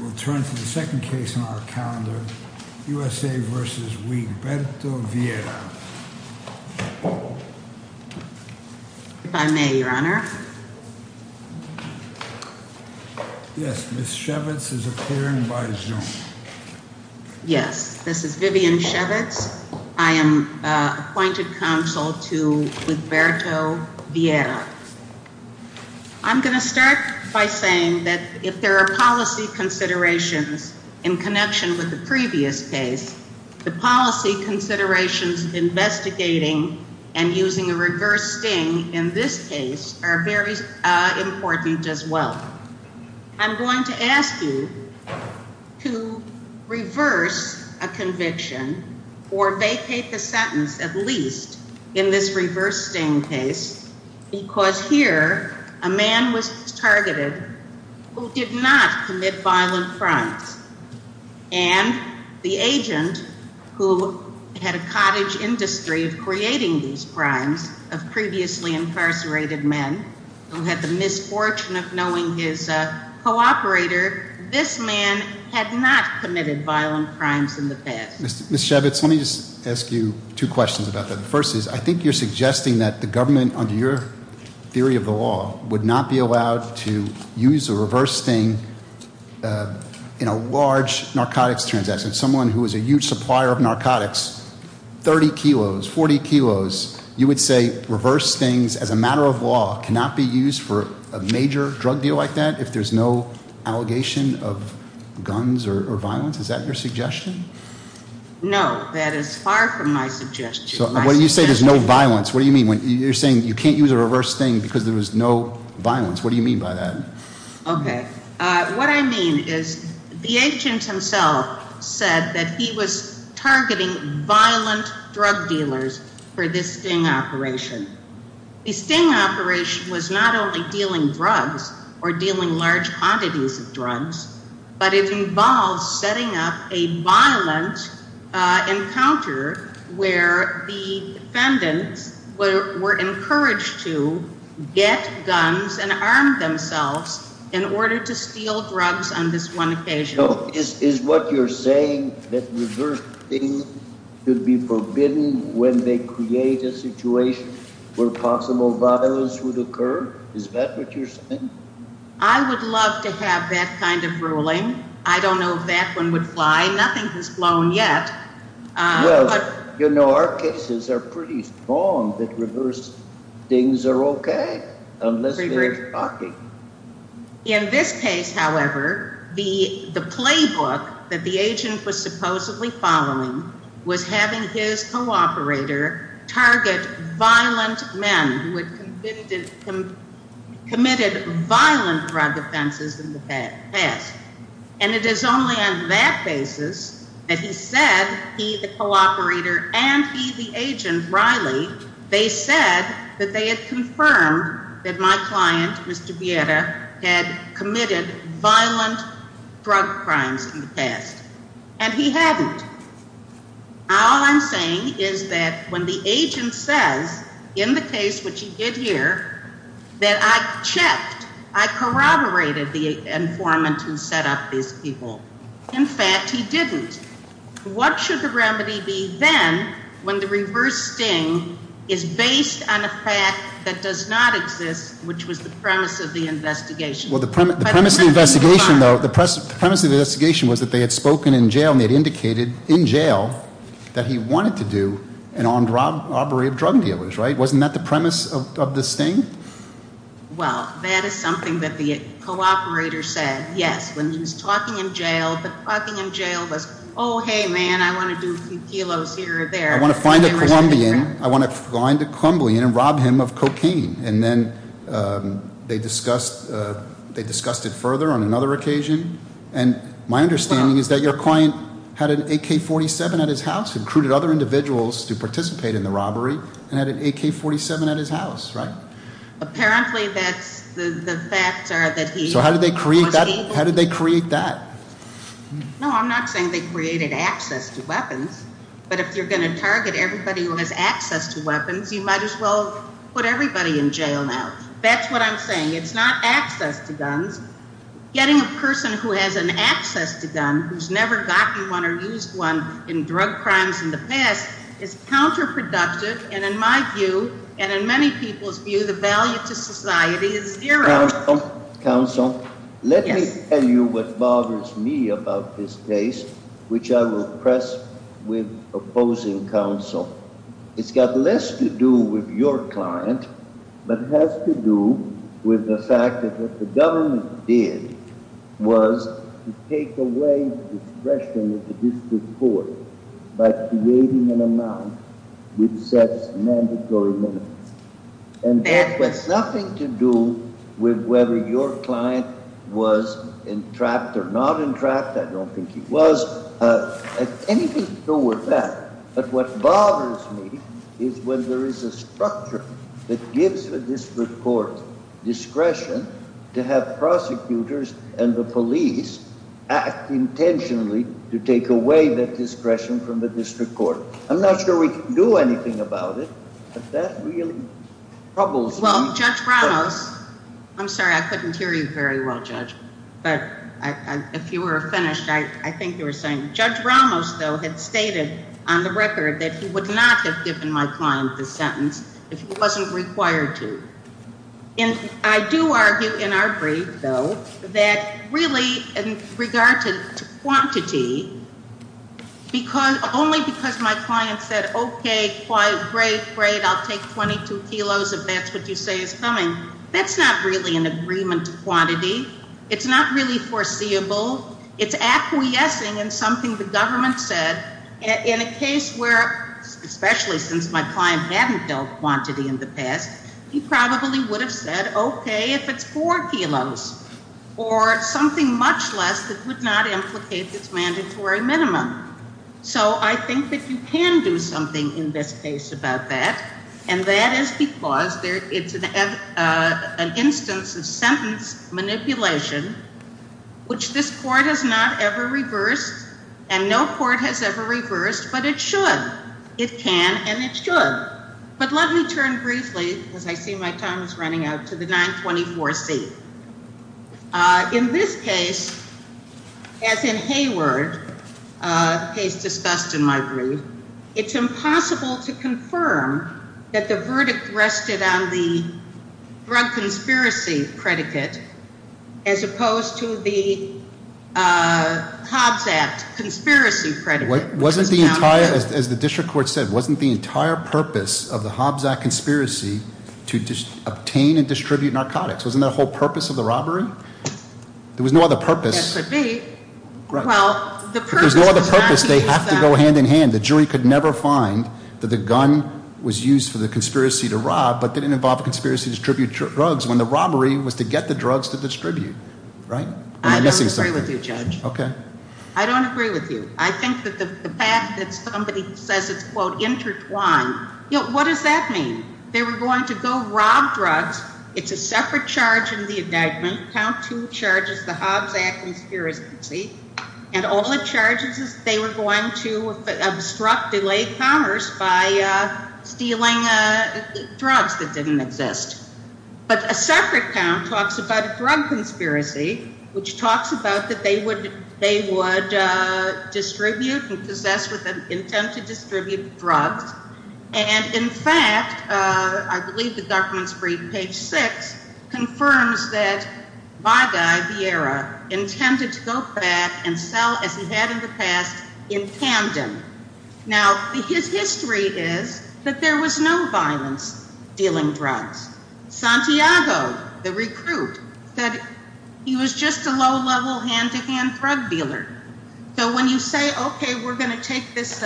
We'll turn to the second case on our calendar, U.S.A. v. Huiberto Viera. If I may, Your Honor. Yes, Ms. Shevitz is appearing by Zoom. Yes, this is Vivian Shevitz. I am appointed counsel to Huiberto Viera. I'm going to start by saying that if there are policy considerations in connection with the previous case, the policy considerations investigating and using a reverse sting in this case are very important as well. I'm going to ask you to reverse a conviction or vacate the sentence at least in this reverse sting case because here a man was targeted who did not commit violent crimes. And the agent who had a cottage industry of creating these crimes of previously incarcerated men who had the misfortune of knowing his co-operator, this man had not committed violent crimes in the past. Ms. Shevitz, let me just ask you two questions about that. The first is I think you're suggesting that the government under your theory of the law would not be allowed to use a reverse sting in a large narcotics transaction. Someone who is a huge supplier of narcotics, 30 kilos, 40 kilos, you would say reverse stings as a matter of law cannot be used for a major drug deal like that if there's no allegation of guns or violence? Is that your suggestion? No, that is far from my suggestion. So when you say there's no violence, what do you mean? You're saying you can't use a reverse sting because there was no violence. What do you mean by that? Okay. What I mean is the agent himself said that he was targeting violent drug dealers for this sting operation. The sting operation was not only dealing drugs or dealing large quantities of drugs, but it involved setting up a violent encounter where the defendants were encouraged to get guns and armed themselves in order to steal drugs on this one occasion. So is what you're saying that reverse stings should be forbidden when they create a situation where possible violence would occur? Is that what you're saying? I would love to have that kind of ruling. I don't know if that one would fly. Nothing has flown yet. Well, you know, our cases are pretty strong that reverse stings are okay unless they're shocking. In this case, however, the playbook that the agent was supposedly following was having his co-operator target violent men who had committed violent drug offenses in the past. And it is only on that basis that he said he, the co-operator, and he, the agent, Riley, they said that they had confirmed that my client, Mr. Vieira, had committed violent drug crimes in the past. And he hadn't. All I'm saying is that when the agent says in the case which he did here that I checked, I corroborated the informant who set up these people. In fact, he didn't. What should the remedy be then when the reverse sting is based on a fact that does not exist, which was the premise of the investigation? Well, the premise of the investigation, though, the premise of the investigation was that they had spoken in jail and they had indicated in jail that he wanted to do an armed robbery of drug dealers, right? Wasn't that the premise of the sting? Well, that is something that the co-operator said, yes, when he was talking in jail. But talking in jail was, oh, hey, man, I want to do kilos here or there. I want to find a Colombian. I want to find a Colombian and rob him of cocaine. And then they discussed it further on another occasion. And my understanding is that your client had an AK-47 at his house, recruited other individuals to participate in the robbery, and had an AK-47 at his house, right? Apparently, that's the facts are that he was able... So how did they create that? No, I'm not saying they created access to weapons. But if you're going to target everybody who has access to weapons, you might as well put everybody in jail now. That's what I'm saying. It's not access to guns. Getting a person who has an access to gun, who's never gotten one or used one in drug crimes in the past, is counterproductive. And in my view, and in many people's view, the value to society is zero. Counsel, let me tell you what bothers me about this case, which I will press with opposing counsel. It's got less to do with your client, but has to do with the fact that what the government did was to take away the discretion of the district court by creating an amount which sets mandatory minimums. And that has nothing to do with whether your client was entrapped or not entrapped. I don't think he was. Anything to do with that. But what bothers me is when there is a structure that gives the district court discretion to have prosecutors and the police act intentionally to take away that discretion from the district court. I'm not sure we can do anything about it, but that really troubles me. Well, Judge Ramos, I'm sorry, I couldn't hear you very well, Judge, but if you were finished, I think you were saying. Judge Ramos, though, had stated on the record that he would not have given my client the sentence if he wasn't required to. And I do argue in our brief, though, that really in regard to quantity, because only because my client said, OK, great, great, I'll take 22 kilos if that's what you say is coming. That's not really an agreement to quantity. It's not really foreseeable. It's acquiescing in something the government said in a case where, especially since my client hadn't dealt quantity in the past, he probably would have said, OK, if it's four kilos. Or something much less that would not implicate this mandatory minimum. So I think that you can do something in this case about that. And that is because it's an instance of sentence manipulation, which this court has not ever reversed. And no court has ever reversed, but it should. It can and it should. But let me turn briefly, because I see my time is running out, to the 924C. In this case, as in Hayward, a case discussed in my brief, it's impossible to confirm that the verdict rested on the drug conspiracy predicate as opposed to the Hobbs Act conspiracy predicate. As the district court said, wasn't the entire purpose of the Hobbs Act conspiracy to obtain and distribute narcotics? Wasn't that the whole purpose of the robbery? There was no other purpose. This would be. Well, the purpose was not to use them. But there was no other purpose. They have to go hand in hand. The jury could never find that the gun was used for the conspiracy to rob, but didn't involve a conspiracy to distribute drugs when the robbery was to get the drugs to distribute. I don't agree with you, Judge. I don't agree with you. I think that the fact that somebody says it's, quote, intertwined. What does that mean? They were going to go rob drugs. It's a separate charge in the indictment. Count two charges, the Hobbs Act conspiracy. And all the charges is they were going to obstruct, delay commerce by stealing drugs that didn't exist. But a separate count talks about a drug conspiracy, which talks about that they would they would distribute and possess with an intent to distribute drugs. And in fact, I believe the documents read page six confirms that Vagai Vieira intended to go back and sell as he had in the past in tandem. Now, his history is that there was no violence dealing drugs. Santiago, the recruit, said he was just a low level hand-to-hand drug dealer. So when you say, OK, we're going to take this,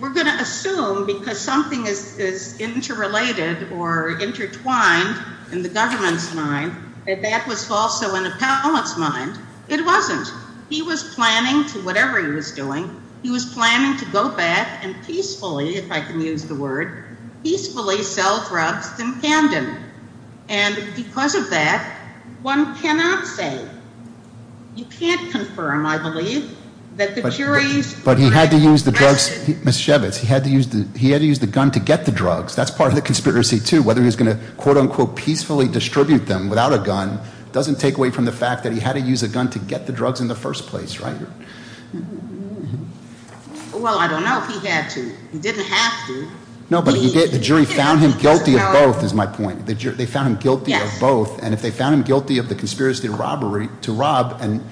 we're going to assume because something is interrelated or intertwined in the government's mind that that was also in a paladin's mind. It wasn't. He was planning to whatever he was doing. He was planning to go back and peacefully, if I can use the word, peacefully sell drugs in tandem. And because of that, one cannot say. You can't confirm, I believe, that the juries. But he had to use the drugs. He had to use the gun to get the drugs. That's part of the conspiracy, too. Whether he's going to, quote unquote, peacefully distribute them without a gun doesn't take away from the fact that he had to use a gun to get the drugs in the first place. Right? Well, I don't know if he had to. He didn't have to. No, but he did. The jury found him guilty of both, is my point. They found him guilty of both. And if they found him guilty of the conspiracy to rob and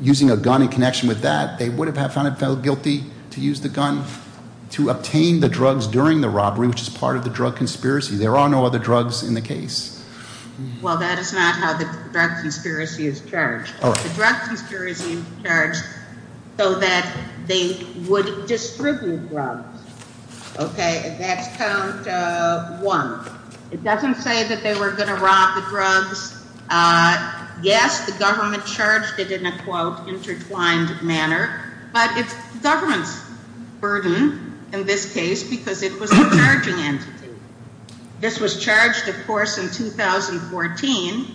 using a gun in connection with that, they would have found him guilty to use the gun to obtain the drugs during the robbery, which is part of the drug conspiracy. There are no other drugs in the case. Well, that is not how the drug conspiracy is charged. The drug conspiracy is charged so that they would distribute drugs. Okay, that's count one. It doesn't say that they were going to rob the drugs. Yes, the government charged it in a, quote, intertwined manner. But it's the government's burden in this case because it was the charging entity. This was charged, of course, in 2014.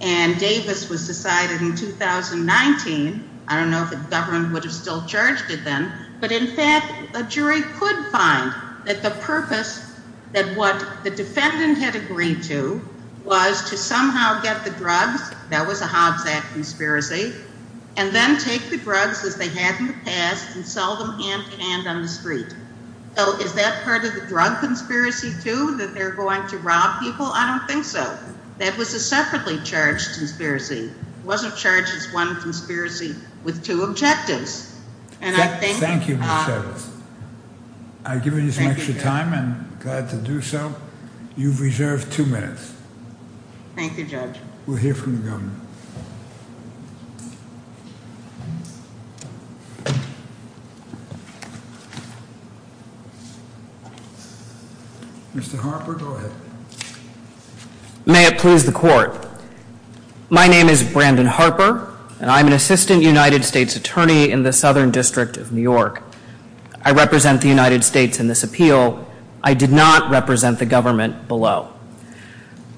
And Davis was decided in 2019. I don't know if the government would have still charged it then. But in fact, a jury could find that the purpose that what the defendant had agreed to was to somehow get the drugs. That was a Hobbs Act conspiracy. And then take the drugs as they had in the past and sell them hand to hand on the street. So is that part of the drug conspiracy, too, that they're going to rob people? I don't think so. That was a separately charged conspiracy. It wasn't charged as one conspiracy with two objectives. Thank you, Ms. Evans. I've given you some extra time and I'm glad to do so. You've reserved two minutes. Thank you, Judge. We'll hear from the government. Mr. Harper, go ahead. May it please the court. My name is Brandon Harper and I'm an assistant United States attorney in the Southern District of New York. I represent the United States in this appeal. I did not represent the government below.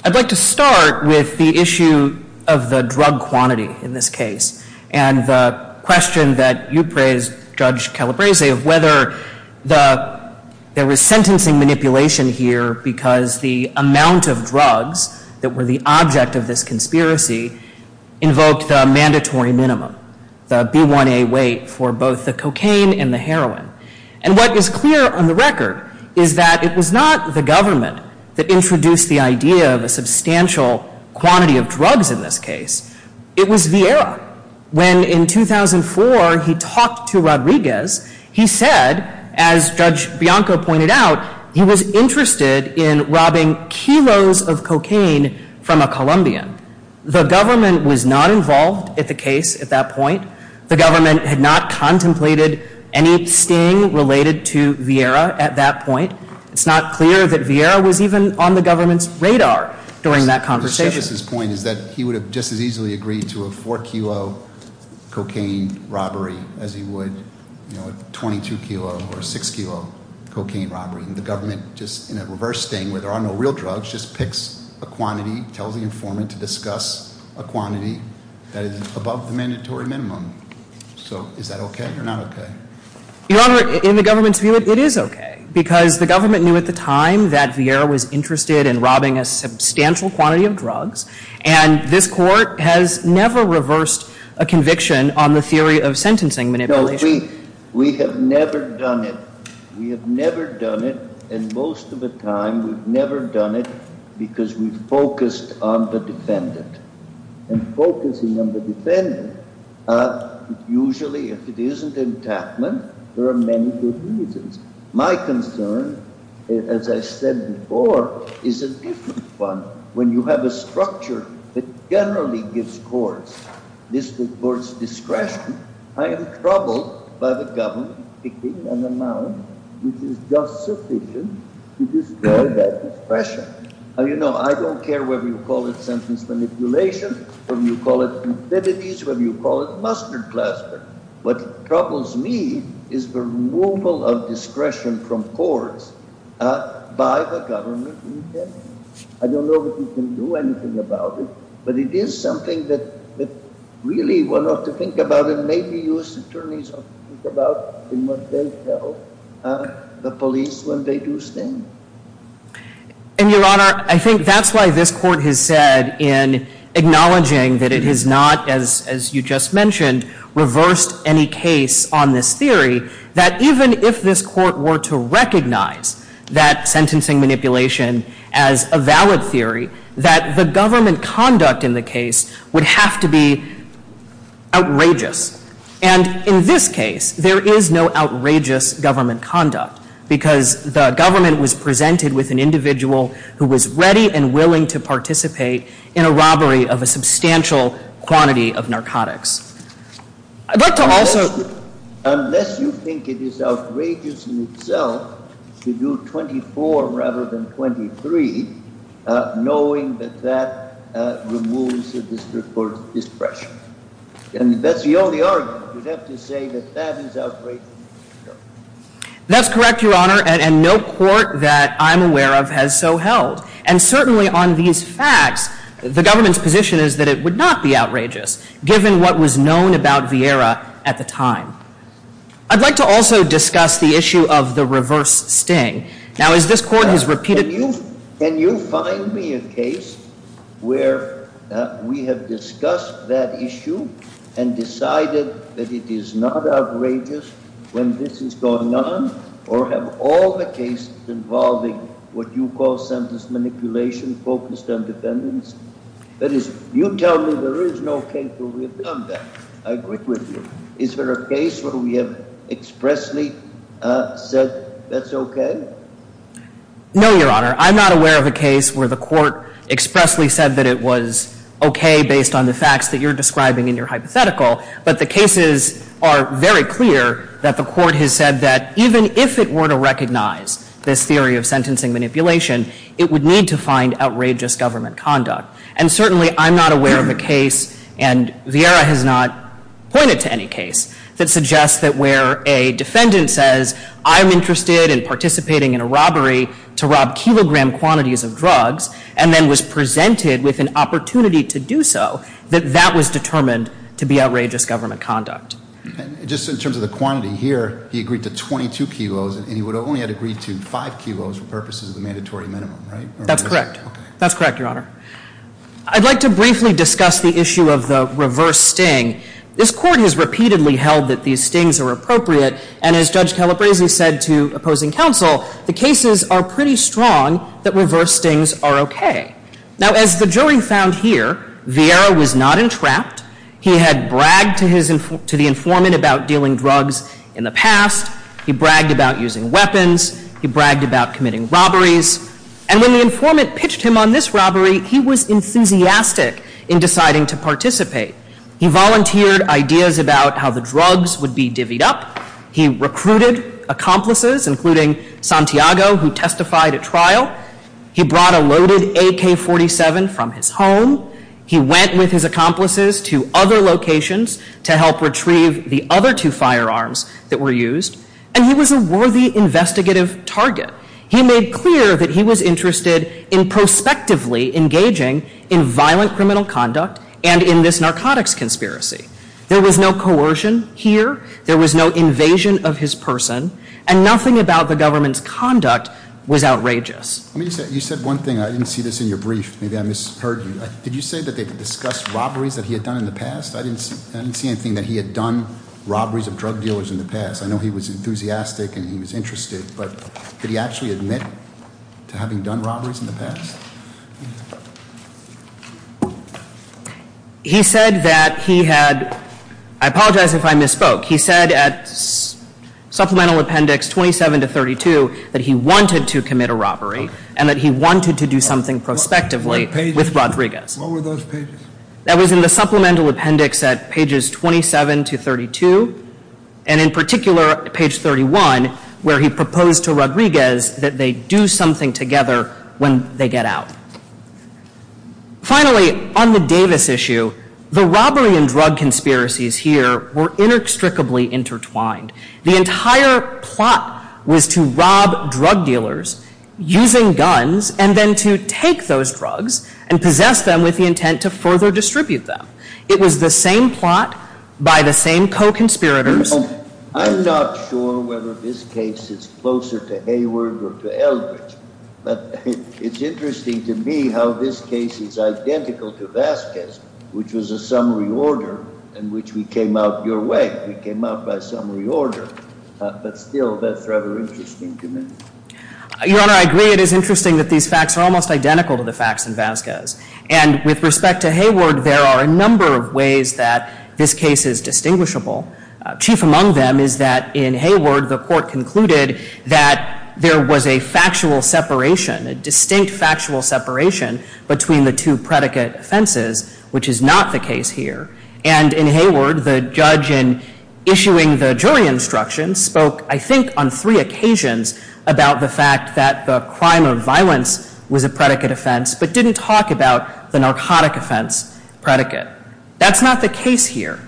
I'd like to start with the issue of the drug quantity in this case. And the question that you praised, Judge Calabresi, of whether there was sentencing manipulation here because the amount of drugs that were the object of this conspiracy invoked the mandatory minimum, the B1A weight for both the cocaine and the heroin. And what is clear on the record is that it was not the government that introduced the idea of a substantial quantity of drugs in this case. It was Vieira. When in 2004 he talked to Rodriguez, he said, as Judge Bianco pointed out, he was interested in robbing kilos of cocaine from a Colombian. The government was not involved at the case at that point. The government had not contemplated any sting related to Vieira at that point. It's not clear that Vieira was even on the government's radar during that conversation. Rodriguez's point is that he would have just as easily agreed to a four kilo cocaine robbery as he would, you know, a 22 kilo or a six kilo cocaine robbery. And the government, just in a reverse sting where there are no real drugs, just picks a quantity, tells the informant to discuss a quantity that is above the mandatory minimum. So is that okay or not okay? Your Honor, in the government's view, it is okay. Because the government knew at the time that Vieira was interested in robbing a substantial quantity of drugs. And this court has never reversed a conviction on the theory of sentencing manipulation. No, we have never done it. We have never done it. And most of the time we've never done it because we've focused on the defendant. And focusing on the defendant, usually if it isn't an attackment, there are many good reasons. My concern, as I said before, is a different one. When you have a structure that generally gives courts discretion, I am troubled by the government picking an amount which is just sufficient to destroy that discretion. You know, I don't care whether you call it sentence manipulation, whether you call it ambiguities, whether you call it mustard plaster. What troubles me is the removal of discretion from courts by the government in general. I don't know that we can do anything about it, but it is something that really one ought to think about and maybe U.S. attorneys ought to think about in what they tell the police when they do sting. And, Your Honor, I think that's why this court has said in acknowledging that it has not, as you just mentioned, reversed any case on this theory, that even if this court were to recognize that sentencing manipulation as a valid theory, that the government conduct in the case would have to be outrageous. And in this case, there is no outrageous government conduct because the government was presented with an individual who was ready and willing to participate in a robbery of a substantial quantity of narcotics. Unless you think it is outrageous in itself to do 24 rather than 23, knowing that that removes the district court's discretion. And that's the only argument. You'd have to say that that is outrageous in itself. That's correct, Your Honor, and no court that I'm aware of has so held. And certainly on these facts, the government's position is that it would not be outrageous given what was known about Vieira at the time. I'd like to also discuss the issue of the reverse sting. Can you find me a case where we have discussed that issue and decided that it is not outrageous when this is going on? Or have all the cases involving what you call sentence manipulation focused on defendants? That is, you tell me there is no case where we have done that. I agree with you. Is there a case where we have expressly said that's okay? No, Your Honor. I'm not aware of a case where the court expressly said that it was okay based on the facts that you're describing in your hypothetical. But the cases are very clear that the court has said that even if it were to recognize this theory of sentencing manipulation, it would need to find outrageous government conduct. And certainly I'm not aware of a case, and Vieira has not pointed to any case, that suggests that where a defendant says, I'm interested in participating in a robbery to rob kilogram quantities of drugs, and then was presented with an opportunity to do so, that that was determined to be outrageous government conduct. Just in terms of the quantity here, he agreed to 22 kilos, and he would only have agreed to 5 kilos for purposes of the mandatory minimum, right? That's correct. That's correct, Your Honor. I'd like to briefly discuss the issue of the reverse sting. This court has repeatedly held that these stings are appropriate, and as Judge Calabresi said to opposing counsel, the cases are pretty strong that reverse stings are okay. Now, as the jury found here, Vieira was not entrapped. He had bragged to the informant about dealing drugs in the past. He bragged about using weapons. He bragged about committing robberies. And when the informant pitched him on this robbery, he was enthusiastic in deciding to participate. He volunteered ideas about how the drugs would be divvied up. He recruited accomplices, including Santiago, who testified at trial. He brought a loaded AK-47 from his home. He went with his accomplices to other locations to help retrieve the other two firearms that were used. And he was a worthy investigative target. He made clear that he was interested in prospectively engaging in violent criminal conduct and in this narcotics conspiracy. There was no coercion here. There was no invasion of his person. And nothing about the government's conduct was outrageous. You said one thing. I didn't see this in your brief. Maybe I misheard you. Did you say that they discussed robberies that he had done in the past? I didn't see anything that he had done, robberies of drug dealers in the past. I know he was enthusiastic and he was interested, but did he actually admit to having done robberies in the past? He said that he had, I apologize if I misspoke. He said at supplemental appendix 27 to 32 that he wanted to commit a robbery and that he wanted to do something prospectively with Rodriguez. What were those pages? That was in the supplemental appendix at pages 27 to 32. And in particular, page 31, where he proposed to Rodriguez that they do something together when they get out. Finally, on the Davis issue, the robbery and drug conspiracies here were inextricably intertwined. The entire plot was to rob drug dealers using guns and then to take those drugs and possess them with the intent to further distribute them. It was the same plot by the same co-conspirators. I'm not sure whether this case is closer to Hayward or to Eldridge. But it's interesting to me how this case is identical to Vasquez, which was a summary order in which we came out your way. We came out by summary order. But still, that's rather interesting to me. Your Honor, I agree. It is interesting that these facts are almost identical to the facts in Vasquez. And with respect to Hayward, there are a number of ways that this case is distinguishable. Chief among them is that in Hayward, the court concluded that there was a factual separation, a distinct factual separation, between the two predicate offenses, which is not the case here. And in Hayward, the judge in issuing the jury instructions spoke, I think, on three occasions about the fact that the crime of violence was a predicate offense but didn't talk about the narcotic offense predicate. That's not the case here.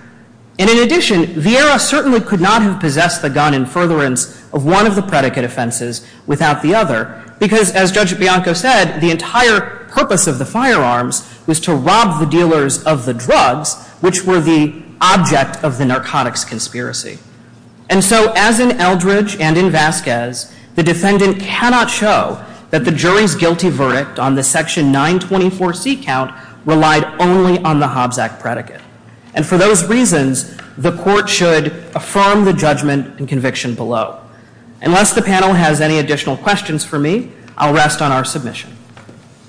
And in addition, Vieira certainly could not have possessed the gun in furtherance of one of the predicate offenses without the other. Because as Judge Bianco said, the entire purpose of the firearms was to rob the dealers of the drugs, which were the object of the narcotics conspiracy. And so as in Eldridge and in Vasquez, the defendant cannot show that the jury's guilty verdict on the section 924C count relied only on the Hobbs Act predicate. And for those reasons, the court should affirm the judgment and conviction below. Unless the panel has any additional questions for me, I'll rest on our submission.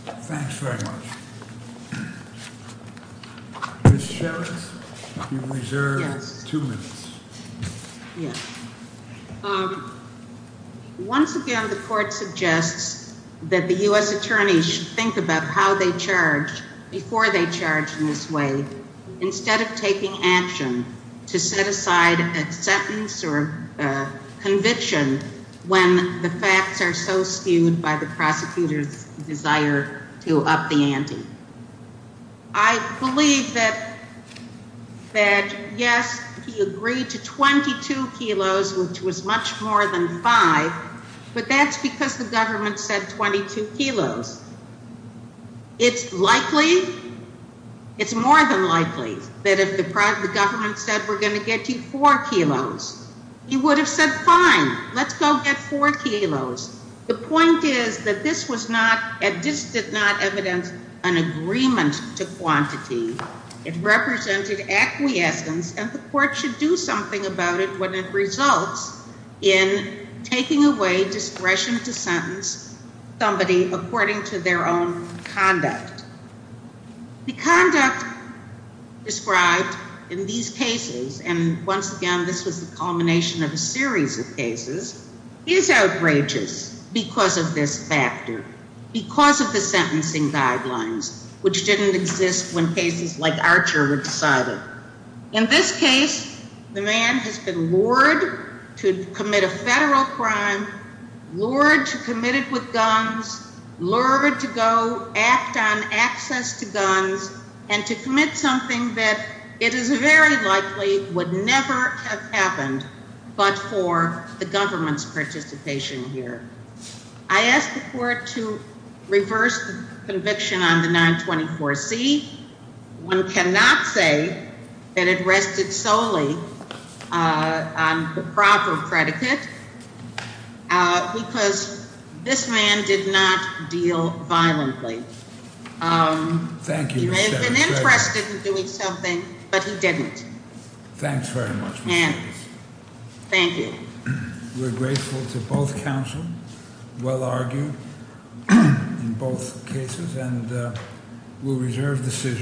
Thanks very much. Ms. Sherrod, you reserve two minutes. Yes. Once again, the court suggests that the U.S. attorney should think about how they charge before they charge in this way instead of taking action to set aside a sentence or conviction when the facts are so skewed by the prosecutor's desire to up the ante. I believe that, yes, he agreed to 22 kilos, which was much more than 5. But that's because the government said 22 kilos. It's likely, it's more than likely that if the government said we're going to get you 4 kilos, he would have said, fine, let's go get 4 kilos. The point is that this did not evidence an agreement to quantity. It represented acquiescence, and the court should do something about it when it results in taking away discretion to sentence somebody according to their own conduct. The conduct described in these cases, and once again, this was the culmination of a series of cases, is outrageous because of this factor, because of the sentencing guidelines, which didn't exist when cases like Archer were decided. In this case, the man has been lured to commit a federal crime, lured to commit it with guns, lured to go act on access to guns, and to commit something that it is very likely would never have happened but for the government's participation here. I asked the court to reverse the conviction on the 924C. One cannot say that it rested solely on the proper predicate, because this man did not deal violently. He may have been interested in doing something, but he didn't. Thanks very much. Thank you. We're grateful to both counsel, well argued in both cases, and we'll reserve the decision.